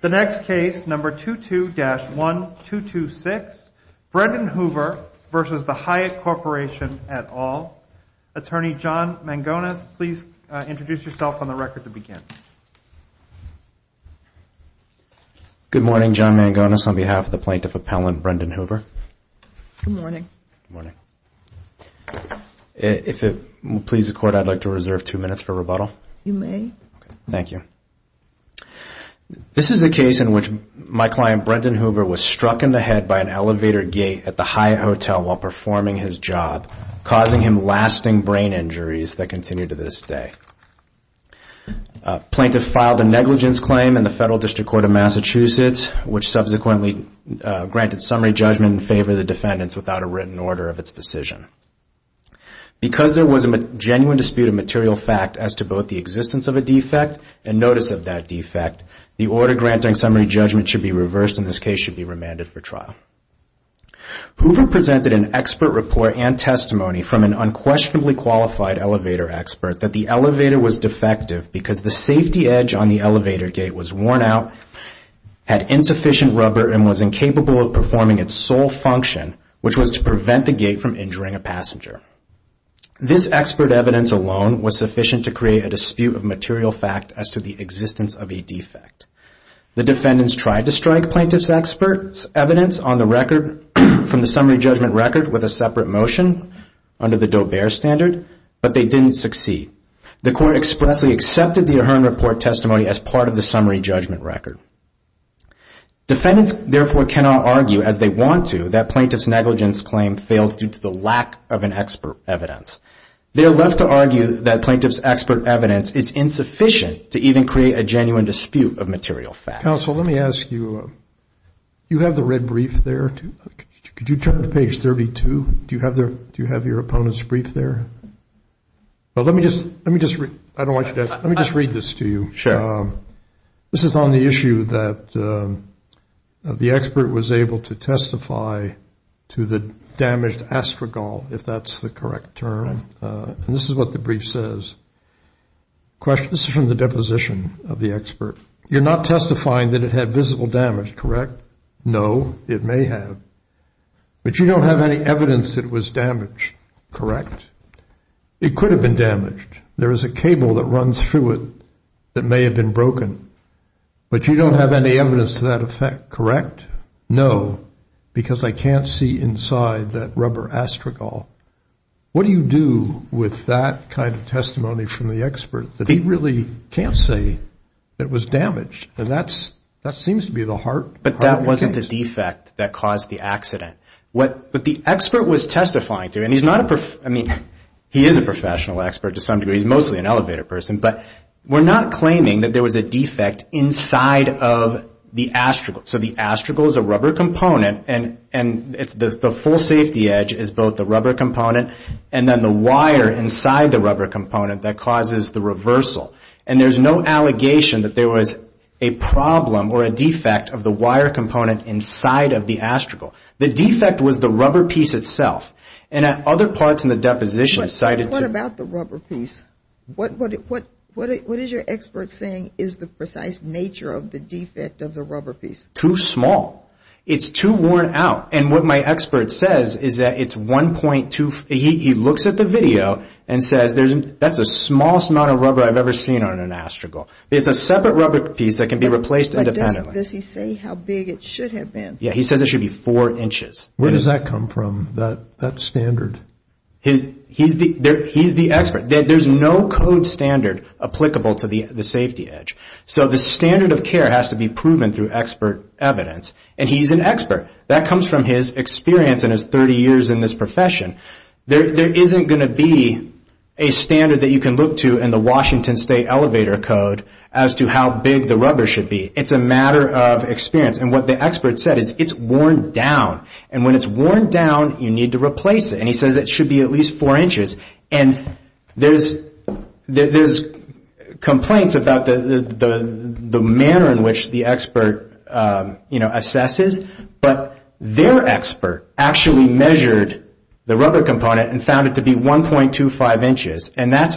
The next case, number 22-1226, Brendan Hoover v. The Hyatt Corporation et al. Attorney John Mangones, please introduce yourself on the record to begin. Good morning, John Mangones, on behalf of the Plaintiff Appellant, Brendan Hoover. Good morning. If it pleases the Court, I'd like to reserve two minutes for rebuttal. You may. Thank you. This is a case in which my client, Brendan Hoover, was struck in the head by an elevator gate at the Hyatt Hotel while performing his job, causing him lasting brain injuries that continue to this day. Plaintiffs filed a negligence claim in the Federal District Court of Massachusetts, which subsequently granted summary judgment in favor of the defendants without a written order of its decision. Because there was a genuine dispute of material fact as to both the existence of a defect and notice of that defect, the order granting summary judgment should be reversed and this case should be remanded for trial. Hoover presented an expert report and testimony from an unquestionably qualified elevator expert that the elevator was defective because the safety edge on the elevator gate was worn out, had insufficient rubber, and was incapable of performing its sole function, which was to prevent the gate from injuring a passenger. This expert evidence alone was sufficient to create a dispute of material fact as to the existence of a defect. The defendants tried to strike plaintiff's expert evidence on the record from the summary judgment record with a separate motion under the Dobear standard, but they didn't succeed. The court expressly accepted the Ahern Report testimony as part of the summary judgment record. Defendants therefore cannot argue, as they want to, that plaintiff's negligence claim fails due to the lack of an expert evidence. They are left to argue that plaintiff's expert evidence is insufficient to even create a genuine dispute of material fact. Counsel, let me ask you, you have the red brief there. Could you turn to page 32? Do you have your opponent's brief there? Let me just read this to you. This is on the issue that the expert was able to testify to the damaged astragal, if that's the correct term. And this is what the brief says. This is from the deposition of the expert. You're not testifying that it had visible damage, correct? No, it may have. But you don't have any evidence that it was damaged, correct? It could have been damaged. There is a cable that runs through it that may have been broken. But you don't have any evidence to that effect, correct? No, because I can't see inside that rubber astragal. What do you do with that kind of testimony from the expert that he really can't say it was damaged? And that seems to be the heart of the case. But that wasn't the defect that caused the accident. What the expert was testifying to, and he is a professional expert to some degree, he's mostly an elevator person, but we're not claiming that there was a defect inside of the astragal. So the astragal is a rubber component and the full safety edge is both the rubber component and then the wire inside the rubber component that causes the reversal. And there's no allegation that there was a problem or a defect of the wire component inside of the astragal. The defect was the rubber piece itself. And at other parts in the deposition cited to... What about the rubber piece? What is your expert saying is the precise nature of the defect of the rubber piece? Too small. It's too worn out. And what my expert says is that it's 1.2... He looks at the video and says, that's the smallest amount of rubber I've ever seen on an astragal. It's a separate rubber piece that can be replaced independently. Does he say how big it should have been? Yeah, he says it should be four inches. Where does that come from, that standard? He's the expert. There's no code standard applicable to the safety edge. So the standard of care has to be proven through expert evidence. And he's an expert. That comes from his experience and his 30 years in this profession. There isn't going to be a standard that you can look to in the Washington State Elevator Code as to how big the rubber should be. It's a matter of experience. And what the expert said is it's worn down. And when it's worn down, you need to replace it. And he says it should be at least four inches. And there's complaints about the manner in which the expert assesses, but their expert actually measured the rubber component and found it to be 1.25 inches. And that's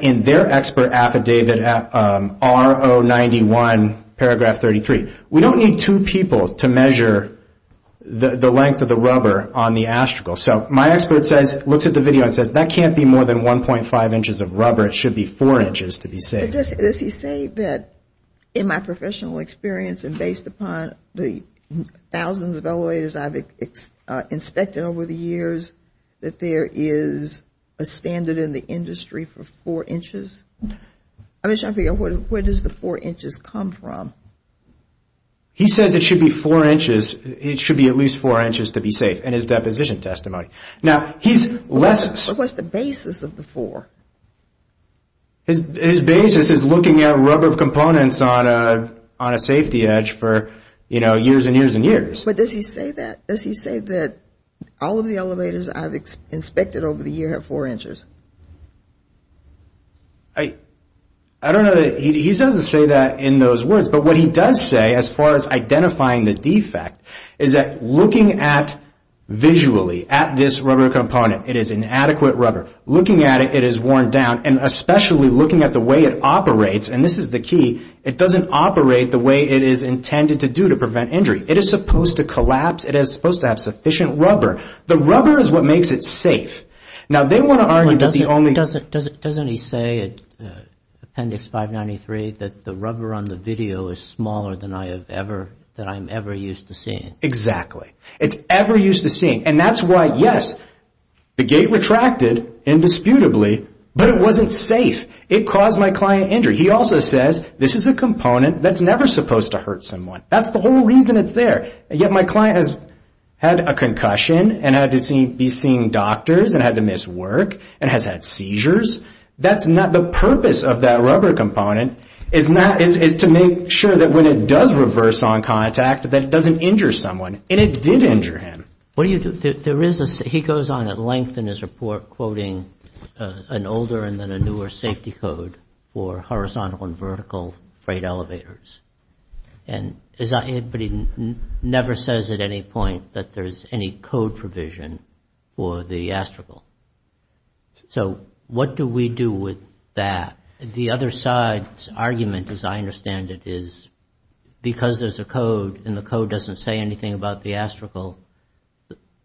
in their expert affidavit, R091 paragraph 33. We don't need two people to measure the length of the rubber on the astragal. So my expert looks at the video and says that can't be more than 1.5 inches of rubber. It should be four inches to be safe. Does he say that in my professional experience and based upon the thousands of elevators I've inspected over the years, that there is a standard in the industry for four inches? I'm just trying to figure out where does the four inches come from? He says it should be four inches. It should be at least four inches to be safe in his deposition testimony. Now he's less... What's the basis of the four? His basis is looking at rubber components on a safety edge for years and years and years. But does he say that all of the elevators I've inspected over the year have four inches? I don't know that he... He doesn't say that in those words, but what he does say as far as identifying the defect is that looking at visually at this rubber component, it is inadequate rubber. Looking at it, it is worn down and especially looking at the way it operates, and this is the key, it doesn't operate the way it is intended to do to prevent injury. It is supposed to collapse. It is supposed to have sufficient rubber. The rubber is what makes it safe. Now they want to argue that the only... Doesn't he say in Appendix 593 that the rubber on the video is smaller than I'm ever used to seeing? Exactly. It's ever used to seeing. And that's why, yes, the gate retracted indisputably, but it wasn't safe. It caused my client injury. He also says this is a component that's never supposed to hurt someone. That's the whole reason it's there, yet my client has had a concussion and had to be seeing doctors and had to miss work and has had seizures. That's not... The purpose of that rubber component is to make sure that when it does reverse on contact that it doesn't injure someone, and it did injure him. What do you do? There is a... He goes on at length in his report quoting an older and then a newer safety code for horizontal and vertical freight elevators. And as I... But he never says at any point that there's any code provision for the astragal. So what do we do with that? The other side's argument, as I understand it, is because there's a code and the code doesn't say anything about the astragal,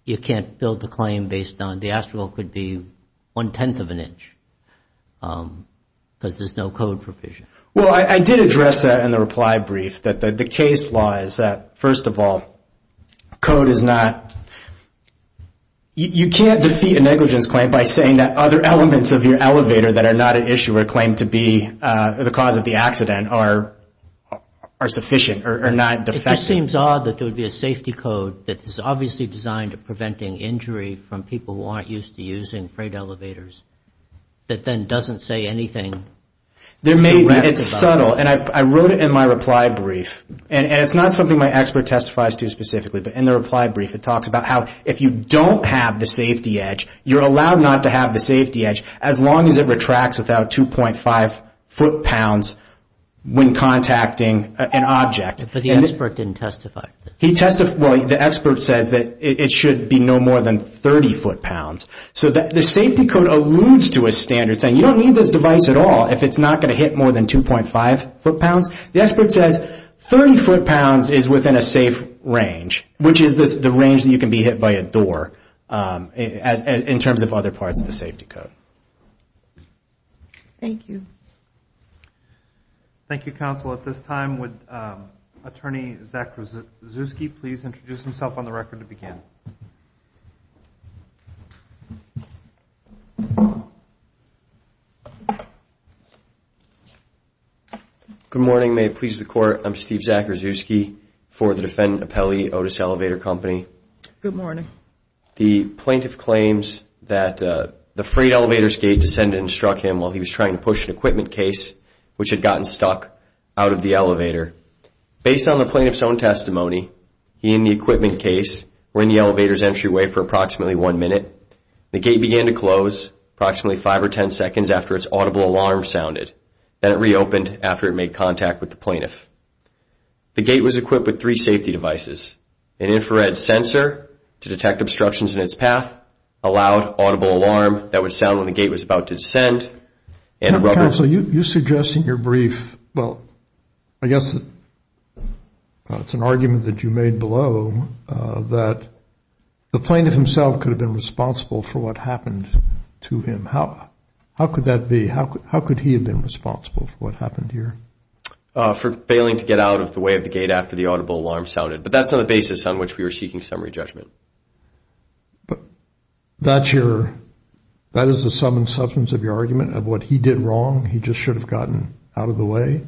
you can't build a claim based on... The astragal could be one-tenth of an inch because there's no code provision. Well, I did address that in the reply brief that the case law is that, first of all, code is not... You can't defeat a negligence claim by saying that other elements of your elevator that are not an issue or claim to be the cause of the accident are sufficient or not defective. It just seems odd that there would be a safety code that is obviously designed to preventing injury from people who aren't used to using freight elevators that then doesn't say anything. There may be. It's subtle and I wrote it in my reply brief and it's not something my expert testifies to specifically, but in the reply brief, it talks about how if you don't have the safety edge, you're allowed not to have the safety edge as long as it retracts without 2.5 foot pounds when contacting an object. But the expert didn't testify. He testified... Well, the expert says that it should be no more than 30 foot pounds. So the safety code alludes to a standard saying you don't need this device at all if it's not going to hit more than 2.5 foot pounds. The expert says 30 foot pounds is within a safe range, which is the range that you can be hit by a door in terms of other parts of the safety code. Thank you. Thank you, counsel. At this time, would Attorney Zach Rzewski please introduce himself on the record to begin? Good morning. May it please the court, I'm Steve Zach Rzewski for the defendant appellee, Otis Elevator Company. Good morning. The plaintiff claims that the freight elevator's gate descended and struck him while he was trying to push an equipment case, which had gotten stuck out of the elevator. Based on the plaintiff's own testimony, he and the equipment case were in the elevator's entryway for approximately one minute. The gate began to close approximately five or ten seconds after its audible alarm sounded. Then it reopened after it made contact with the plaintiff. The gate was equipped with three safety devices, an infrared sensor to detect obstructions in its path, a loud audible alarm that would sound when the gate was about to descend, and a rubber- Counsel, you suggest in your brief, well, I guess it's an argument that you made below that the plaintiff himself could have been responsible for what happened to him. How could that be? How could he have been responsible for what happened here? For failing to get out of the way of the gate after the audible alarm sounded. But that's not the basis on which we were seeking summary judgment. That's your- that is the sum and substance of your argument of what he did wrong? He just should have gotten out of the way?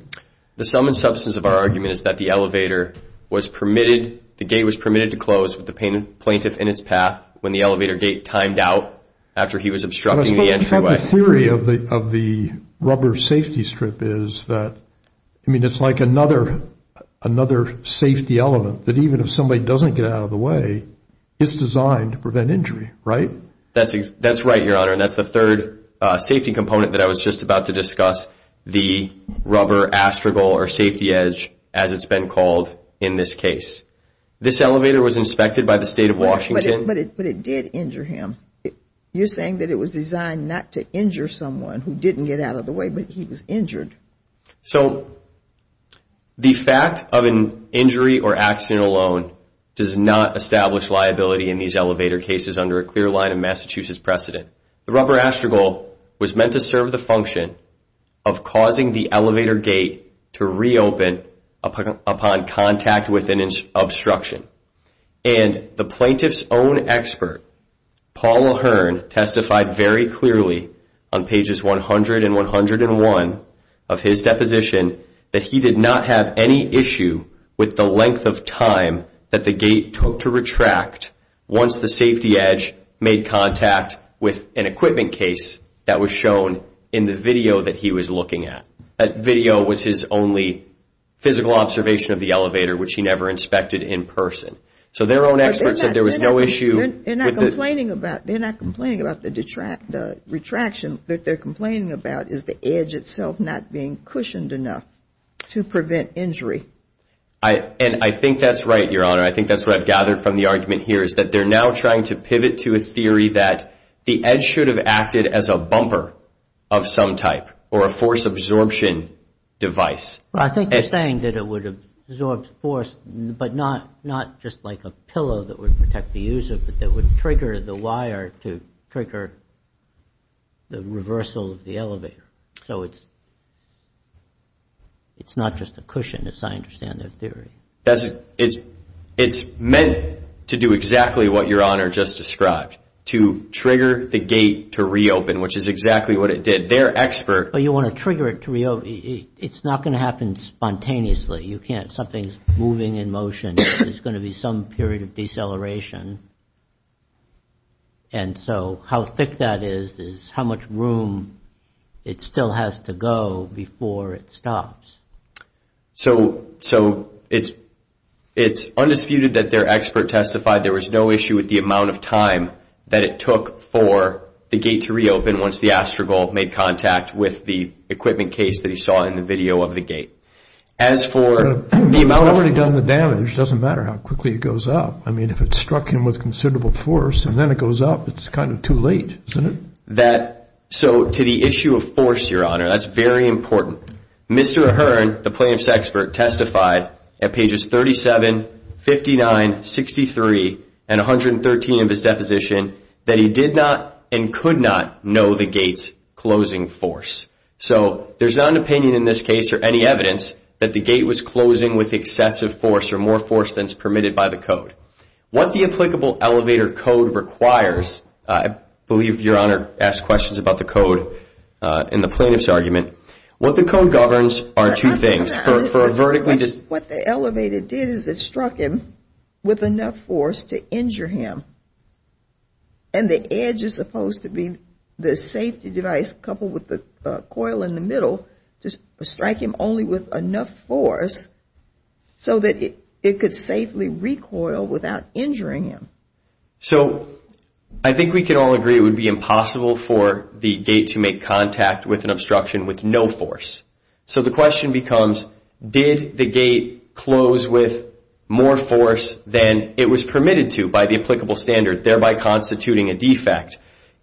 The sum and substance of our argument is that the elevator was permitted- the gate was permitted to close with the plaintiff in its path when the elevator gate timed out after he was obstructing the entryway. Well, the theory of the rubber safety strip is that, I mean, it's like another safety element, that even if somebody doesn't get out of the way, it's designed to prevent injury, right? That's right, Your Honor, and that's the third safety component that I was just about to discuss, the rubber astragal, or safety edge, as it's been called in this case. This elevator was inspected by the state of Washington- But it did injure him. You're saying that it was designed not to injure someone who didn't get out of the way, but he was injured. So, the fact of an injury or accident alone does not establish liability in these elevator cases under a clear line of Massachusetts precedent. The rubber astragal was meant to serve the function of causing the elevator gate to reopen upon contact with an obstruction, and the plaintiff's own expert, Paul Ahern, testified very clearly on pages 100 and 101 of his deposition that he did not have any issue with the length of time that the gate took to retract once the safety edge made contact with an equipment case that was shown in the video that he was looking at. That video was his only physical observation of the elevator, which he never inspected in person. So, their own expert said there was no issue- Retraction that they're complaining about is the edge itself not being cushioned enough to prevent injury. And I think that's right, Your Honor. I think that's what I've gathered from the argument here, is that they're now trying to pivot to a theory that the edge should have acted as a bumper of some type or a force absorption device. I think they're saying that it would have absorbed force, but not just like a pillow that would protect the user, but that would trigger the wire to trigger the reversal of the elevator. So, it's not just a cushion, as I understand their theory. It's meant to do exactly what Your Honor just described, to trigger the gate to reopen, which is exactly what it did. Their expert- But you want to trigger it to reopen. It's not going to happen spontaneously. You can't. Something's moving in motion. There's going to be some period of deceleration. And so, how thick that is, is how much room it still has to go before it stops. So, it's undisputed that their expert testified there was no issue with the amount of time that it took for the gate to reopen once the AstroGolf made contact with the equipment case that he saw in the video of the gate. As for- It's already done the damage. It doesn't matter how quickly it goes up. I mean, if it struck him with considerable force, and then it goes up, it's kind of too late. Isn't it? So, to the issue of force, Your Honor, that's very important. Mr. Ahern, the plaintiff's expert, testified at pages 37, 59, 63, and 113 of his deposition that he did not and could not know the gate's closing force. So, there's not an opinion in this case or any evidence that the gate was closing with excessive force or more force than is permitted by the code. What the applicable elevator code requires, I believe Your Honor asked questions about the code in the plaintiff's argument, what the code governs are two things. For a vertically- What the elevator did is it struck him with enough force to injure him. And the edge is supposed to be the safety device coupled with the coil in the middle to strike him only with enough force so that it could safely recoil without injuring him. So, I think we can all agree it would be impossible for the gate to make contact with an obstruction with no force. So, the question becomes, did the gate close with more force than it was permitted to by the applicable standard, thereby constituting a defect?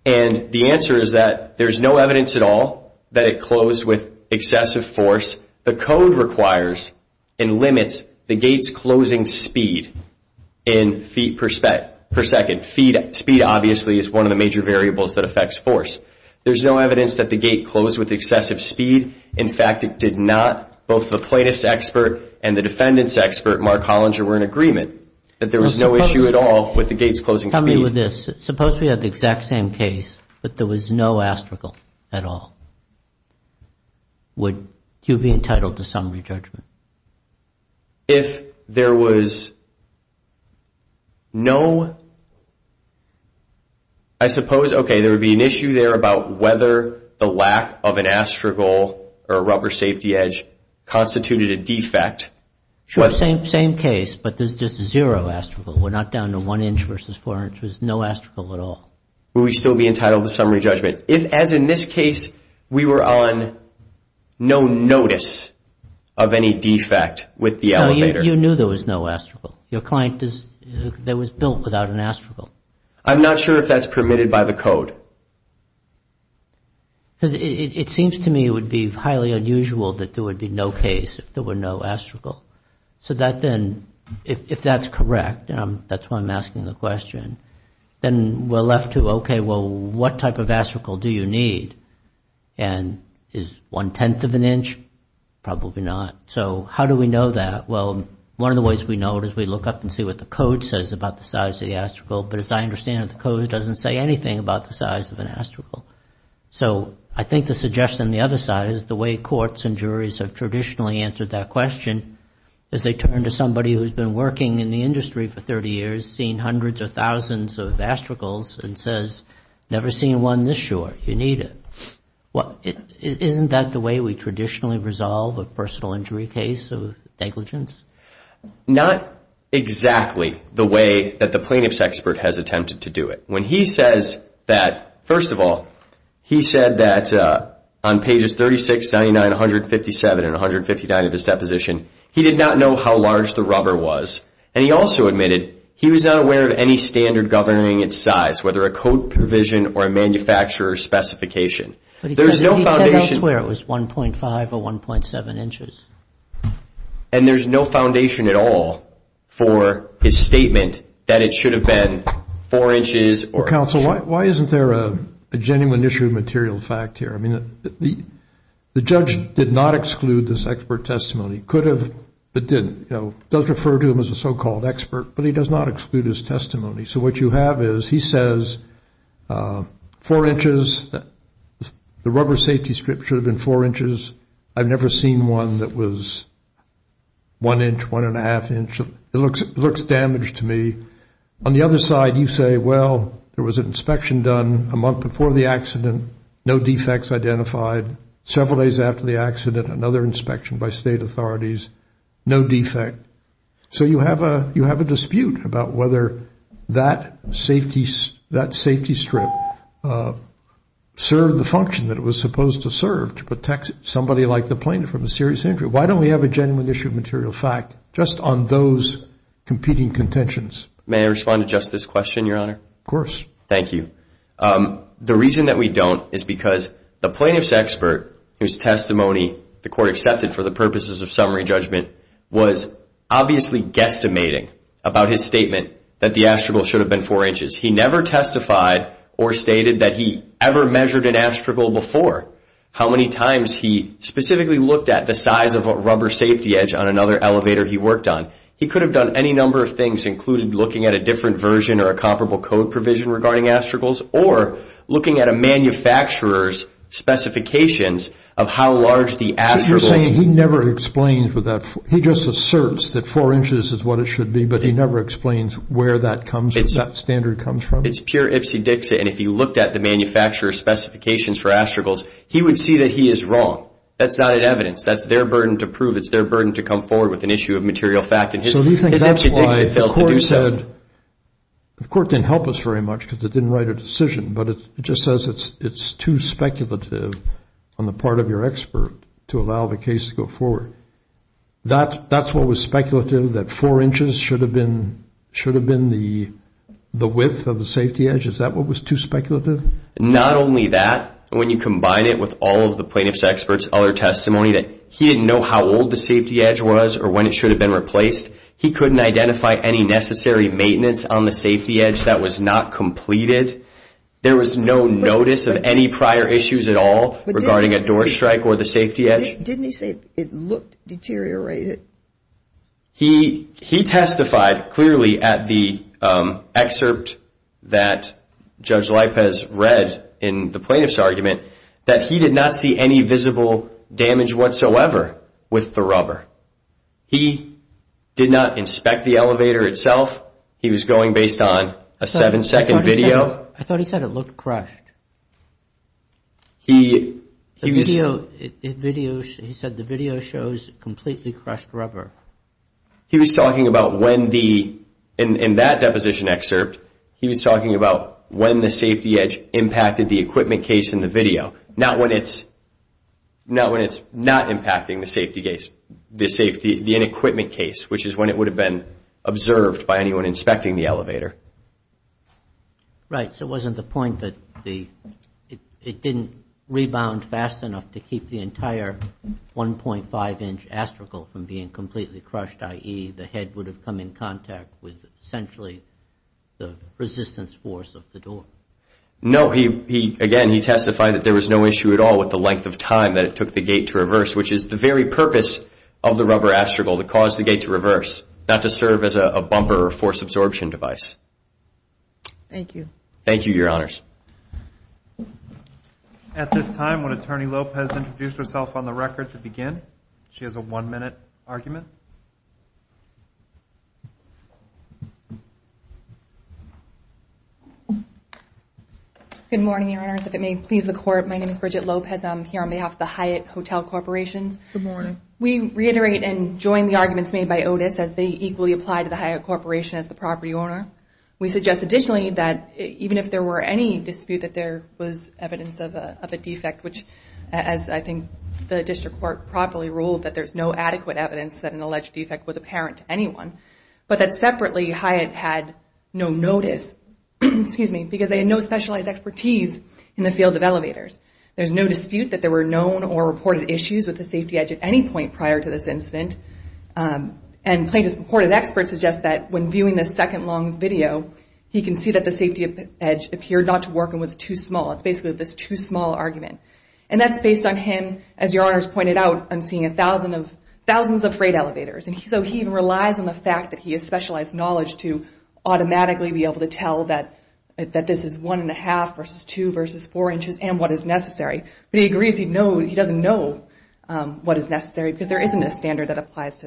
And the answer is that there's no evidence at all that it closed with excessive force. The code requires and limits the gate's closing speed in feet per second. Speed obviously is one of the major variables that affects force. There's no evidence that the gate closed with excessive speed. In fact, it did not. Both the plaintiff's expert and the defendant's expert, Mark Hollinger, were in agreement that there was no issue at all with the gate's closing speed. Suppose we have the exact same case, but there was no astragal at all. Would you be entitled to summary judgment? If there was no- I suppose, okay, there would be an issue there about whether the lack of an astragal or a rubber safety edge constituted a defect. Sure, same case, but there's just zero astragal. We're not down to one inch versus four inches, no astragal at all. Would we still be entitled to summary judgment? If, as in this case, we were on no notice of any defect with the elevator- No, you knew there was no astragal. Your client was built without an astragal. I'm not sure if that's permitted by the code. Because it seems to me it would be highly unusual that there would be no case if there were no astragal. If that's correct, that's why I'm asking the question, then we're left to, okay, well, what type of astragal do you need? Is one-tenth of an inch? Probably not. How do we know that? Well, one of the ways we know it is we look up and see what the code says about the size of the astragal, but as I understand it, the code doesn't say anything about the size of an astragal. I think the suggestion on the other side is the way courts and juries have traditionally answered that question is they turn to somebody who's been working in the industry for 30 years, seen hundreds of thousands of astragals, and says, never seen one this short. You need it. Isn't that the way we traditionally resolve a personal injury case of negligence? Not exactly the way that the plaintiff's expert has attempted to do it. When he says that, first of all, he said that on pages 36, 99, 157, and 159 of his deposition, he did not know how large the rubber was, and he also admitted he was not aware of any standard governing its size, whether a code provision or a manufacturer's specification. But he said elsewhere it was 1.5 or 1.7 inches. And there's no foundation at all for his statement that it should have been 4 inches or 2. Counsel, why isn't there a genuine issue of material fact here? I mean, the judge did not exclude this expert testimony. Could have, but didn't. It does refer to him as a so-called expert, but he does not exclude his testimony. So what you have is he says 4 inches, the rubber safety strip should have been 4 inches. I've never seen one that was 1 inch, 1.5 inch. It looks damaged to me. On the other side, you say, well, there was an inspection done a month before the accident, no defects identified, several days after the accident, another inspection by state authorities, no defect. So you have a dispute about whether that safety strip served the function that it was from a serious injury. Why don't we have a genuine issue of material fact just on those competing contentions? May I respond to just this question, Your Honor? Of course. Thank you. The reason that we don't is because the plaintiff's expert, whose testimony the court accepted for the purposes of summary judgment, was obviously guesstimating about his statement that the astragal should have been 4 inches. He never testified or stated that he ever measured an astragal before. How many times he specifically looked at the size of a rubber safety edge on another elevator he worked on. He could have done any number of things, including looking at a different version or a comparable code provision regarding astragals, or looking at a manufacturer's specifications of how large the astragal is. He never explains with that. He just asserts that 4 inches is what it should be, but he never explains where that standard comes from. It's pure ipsy-dixy. If he looked at the manufacturer's specifications for astragals, he would see that he is wrong. That's not evidence. That's their burden to prove. It's their burden to come forward with an issue of material fact. The court didn't help us very much because it didn't write a decision, but it just says it's too speculative on the part of your expert to allow the case to go forward. That's what was speculative, that 4 inches should have been the width of the safety edge. Is that what was too speculative? Not only that, when you combine it with all of the plaintiff's experts' other testimony that he didn't know how old the safety edge was or when it should have been replaced, he couldn't identify any necessary maintenance on the safety edge that was not completed. There was no notice of any prior issues at all regarding a door strike or the safety edge. Didn't he say it looked deteriorated? He testified clearly at the excerpt that Judge Lipez read in the plaintiff's argument that he did not see any visible damage whatsoever with the rubber. He did not inspect the elevator itself. He was going based on a seven-second video. I thought he said it looked crushed. He said the video shows completely crushed rubber. He was talking about when the, in that deposition excerpt, he was talking about when the safety edge impacted the equipment case in the video, not when it's not impacting the safety case, the safety, the equipment case, which is when it would have been observed by anyone inspecting the elevator. Right. So it wasn't the point that it didn't rebound fast enough to keep the entire 1.5-inch astragal from being completely crushed, i.e. the head would have come in contact with essentially the resistance force of the door. No, again, he testified that there was no issue at all with the length of time that it took the gate to reverse, which is the very purpose of the rubber astragal, to cause the gate to reverse, not to serve as a bumper or force absorption device. Thank you. Thank you, Your Honors. At this time, when Attorney Lopez introduced herself on the record to begin, she has a one-minute argument. Good morning, Your Honors. If it may please the Court, my name is Bridget Lopez. I'm here on behalf of the Hyatt Hotel Corporations. Good morning. We reiterate and join the arguments made by Otis as they equally apply to the Hyatt Corporation as the property owner. We suggest additionally that even if there were any dispute that there was evidence of a defect, which as I think the District Court properly ruled, that there's no adequate evidence that an alleged defect was apparent to anyone, but that separately Hyatt had no notice, excuse me, because they had no specialized expertise in the field of elevators. There's no dispute that there were known or reported issues with the safety edge at any point prior to this incident. And plaintiff's purported expert suggests that when viewing this second long video, he can see that the safety edge appeared not to work and was too small. It's basically this too small argument. And that's based on him, as Your Honors pointed out, on seeing thousands of freight elevators. So he relies on the fact that he has specialized knowledge to automatically be able to tell that this is one and a half versus two versus four inches and what is necessary. But he agrees he doesn't know what is necessary because there isn't a standard that applies to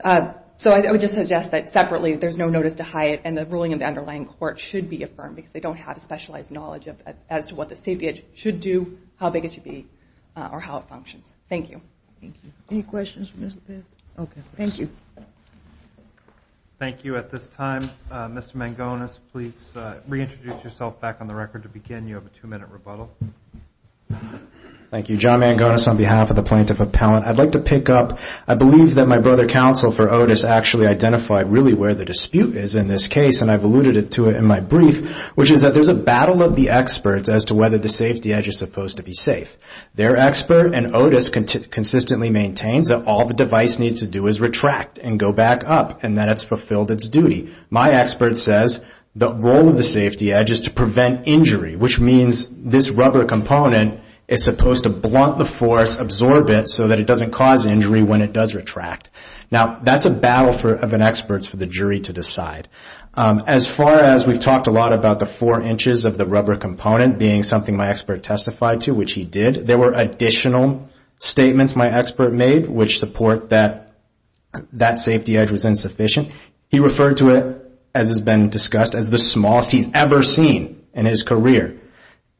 that. So I would just suggest that separately there's no notice to Hyatt and the ruling in the underlying court should be affirmed because they don't have specialized knowledge as to what the safety edge should do, how big it should be, or how it functions. Thank you. Thank you. Any questions for Mr. Pitt? Okay. Thank you. Thank you. At this time, Mr. Mangones, please reintroduce yourself back on the record to begin. You have a two-minute rebuttal. Thank you. John Mangones on behalf of the Plaintiff Appellant. I'd like to pick up, I believe that my brother counsel for Otis actually identified really where the dispute is in this case and I've alluded to it in my brief, which is that there's a battle of the experts as to whether the safety edge is supposed to be safe. Their expert and Otis consistently maintains that all the device needs to do is retract and go back up and that it's fulfilled its duty. My expert says the role of the safety edge is to prevent injury, which means this rubber component is supposed to blunt the force, absorb it so that it doesn't cause injury when it does retract. Now, that's a battle of an expert's for the jury to decide. As far as we've talked a lot about the four inches of the rubber component being something my expert testified to, which he did, there were additional statements my expert made which support that that safety edge was insufficient. He referred to it, as has been discussed, as the smallest he's ever seen in his career.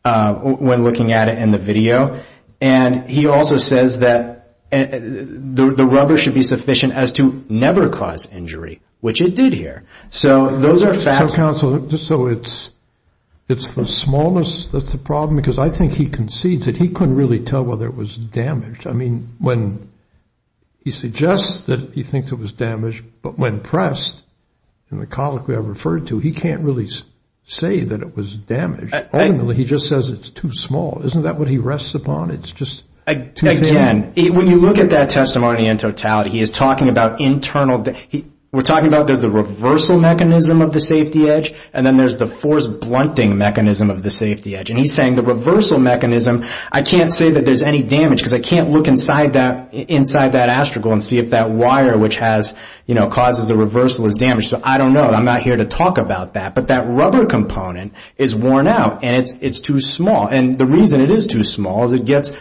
When looking at it in the video, and he also says that the rubber should be sufficient as to never cause injury, which it did here. So those are facts. Counsel, just so it's, it's the smallest that's the problem because I think he concedes that he couldn't really tell whether it was damaged. I mean, when he suggests that he thinks it was damaged, but when pressed in the colloquy I referred to, he can't really say that it was damaged. Ultimately, he just says it's too small. Isn't that what he rests upon? It's just too thin? Again, when you look at that testimony in totality, he is talking about internal damage. We're talking about there's the reversal mechanism of the safety edge, and then there's the force blunting mechanism of the safety edge. And he's saying the reversal mechanism, I can't say that there's any damage because I can't look inside that, inside that astragal and see if that wire which has, you know, causes a reversal is damaged. So I don't know. I'm not here to talk about that. But that rubber component is worn out and it's, it's too small. And the reason it is too small is it gets,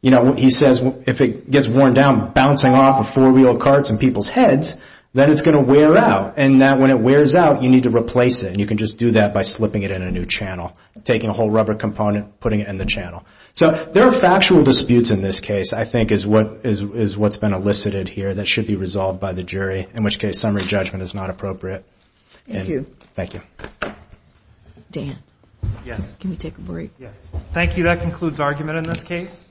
you know, he says if it gets worn down bouncing off of four wheel carts in people's heads, then it's going to wear out. And that when it wears out, you need to replace it. And you can just do that by slipping it in a new channel, taking a whole rubber component, putting it in the channel. So there are factual disputes in this case, I think is what is, is what's been elicited here that should be resolved by the jury, in which case summary judgment is not appropriate. Thank you. Thank you. Dan. Yes. Can we take a break? Yes. Thank you. That concludes argument in this case.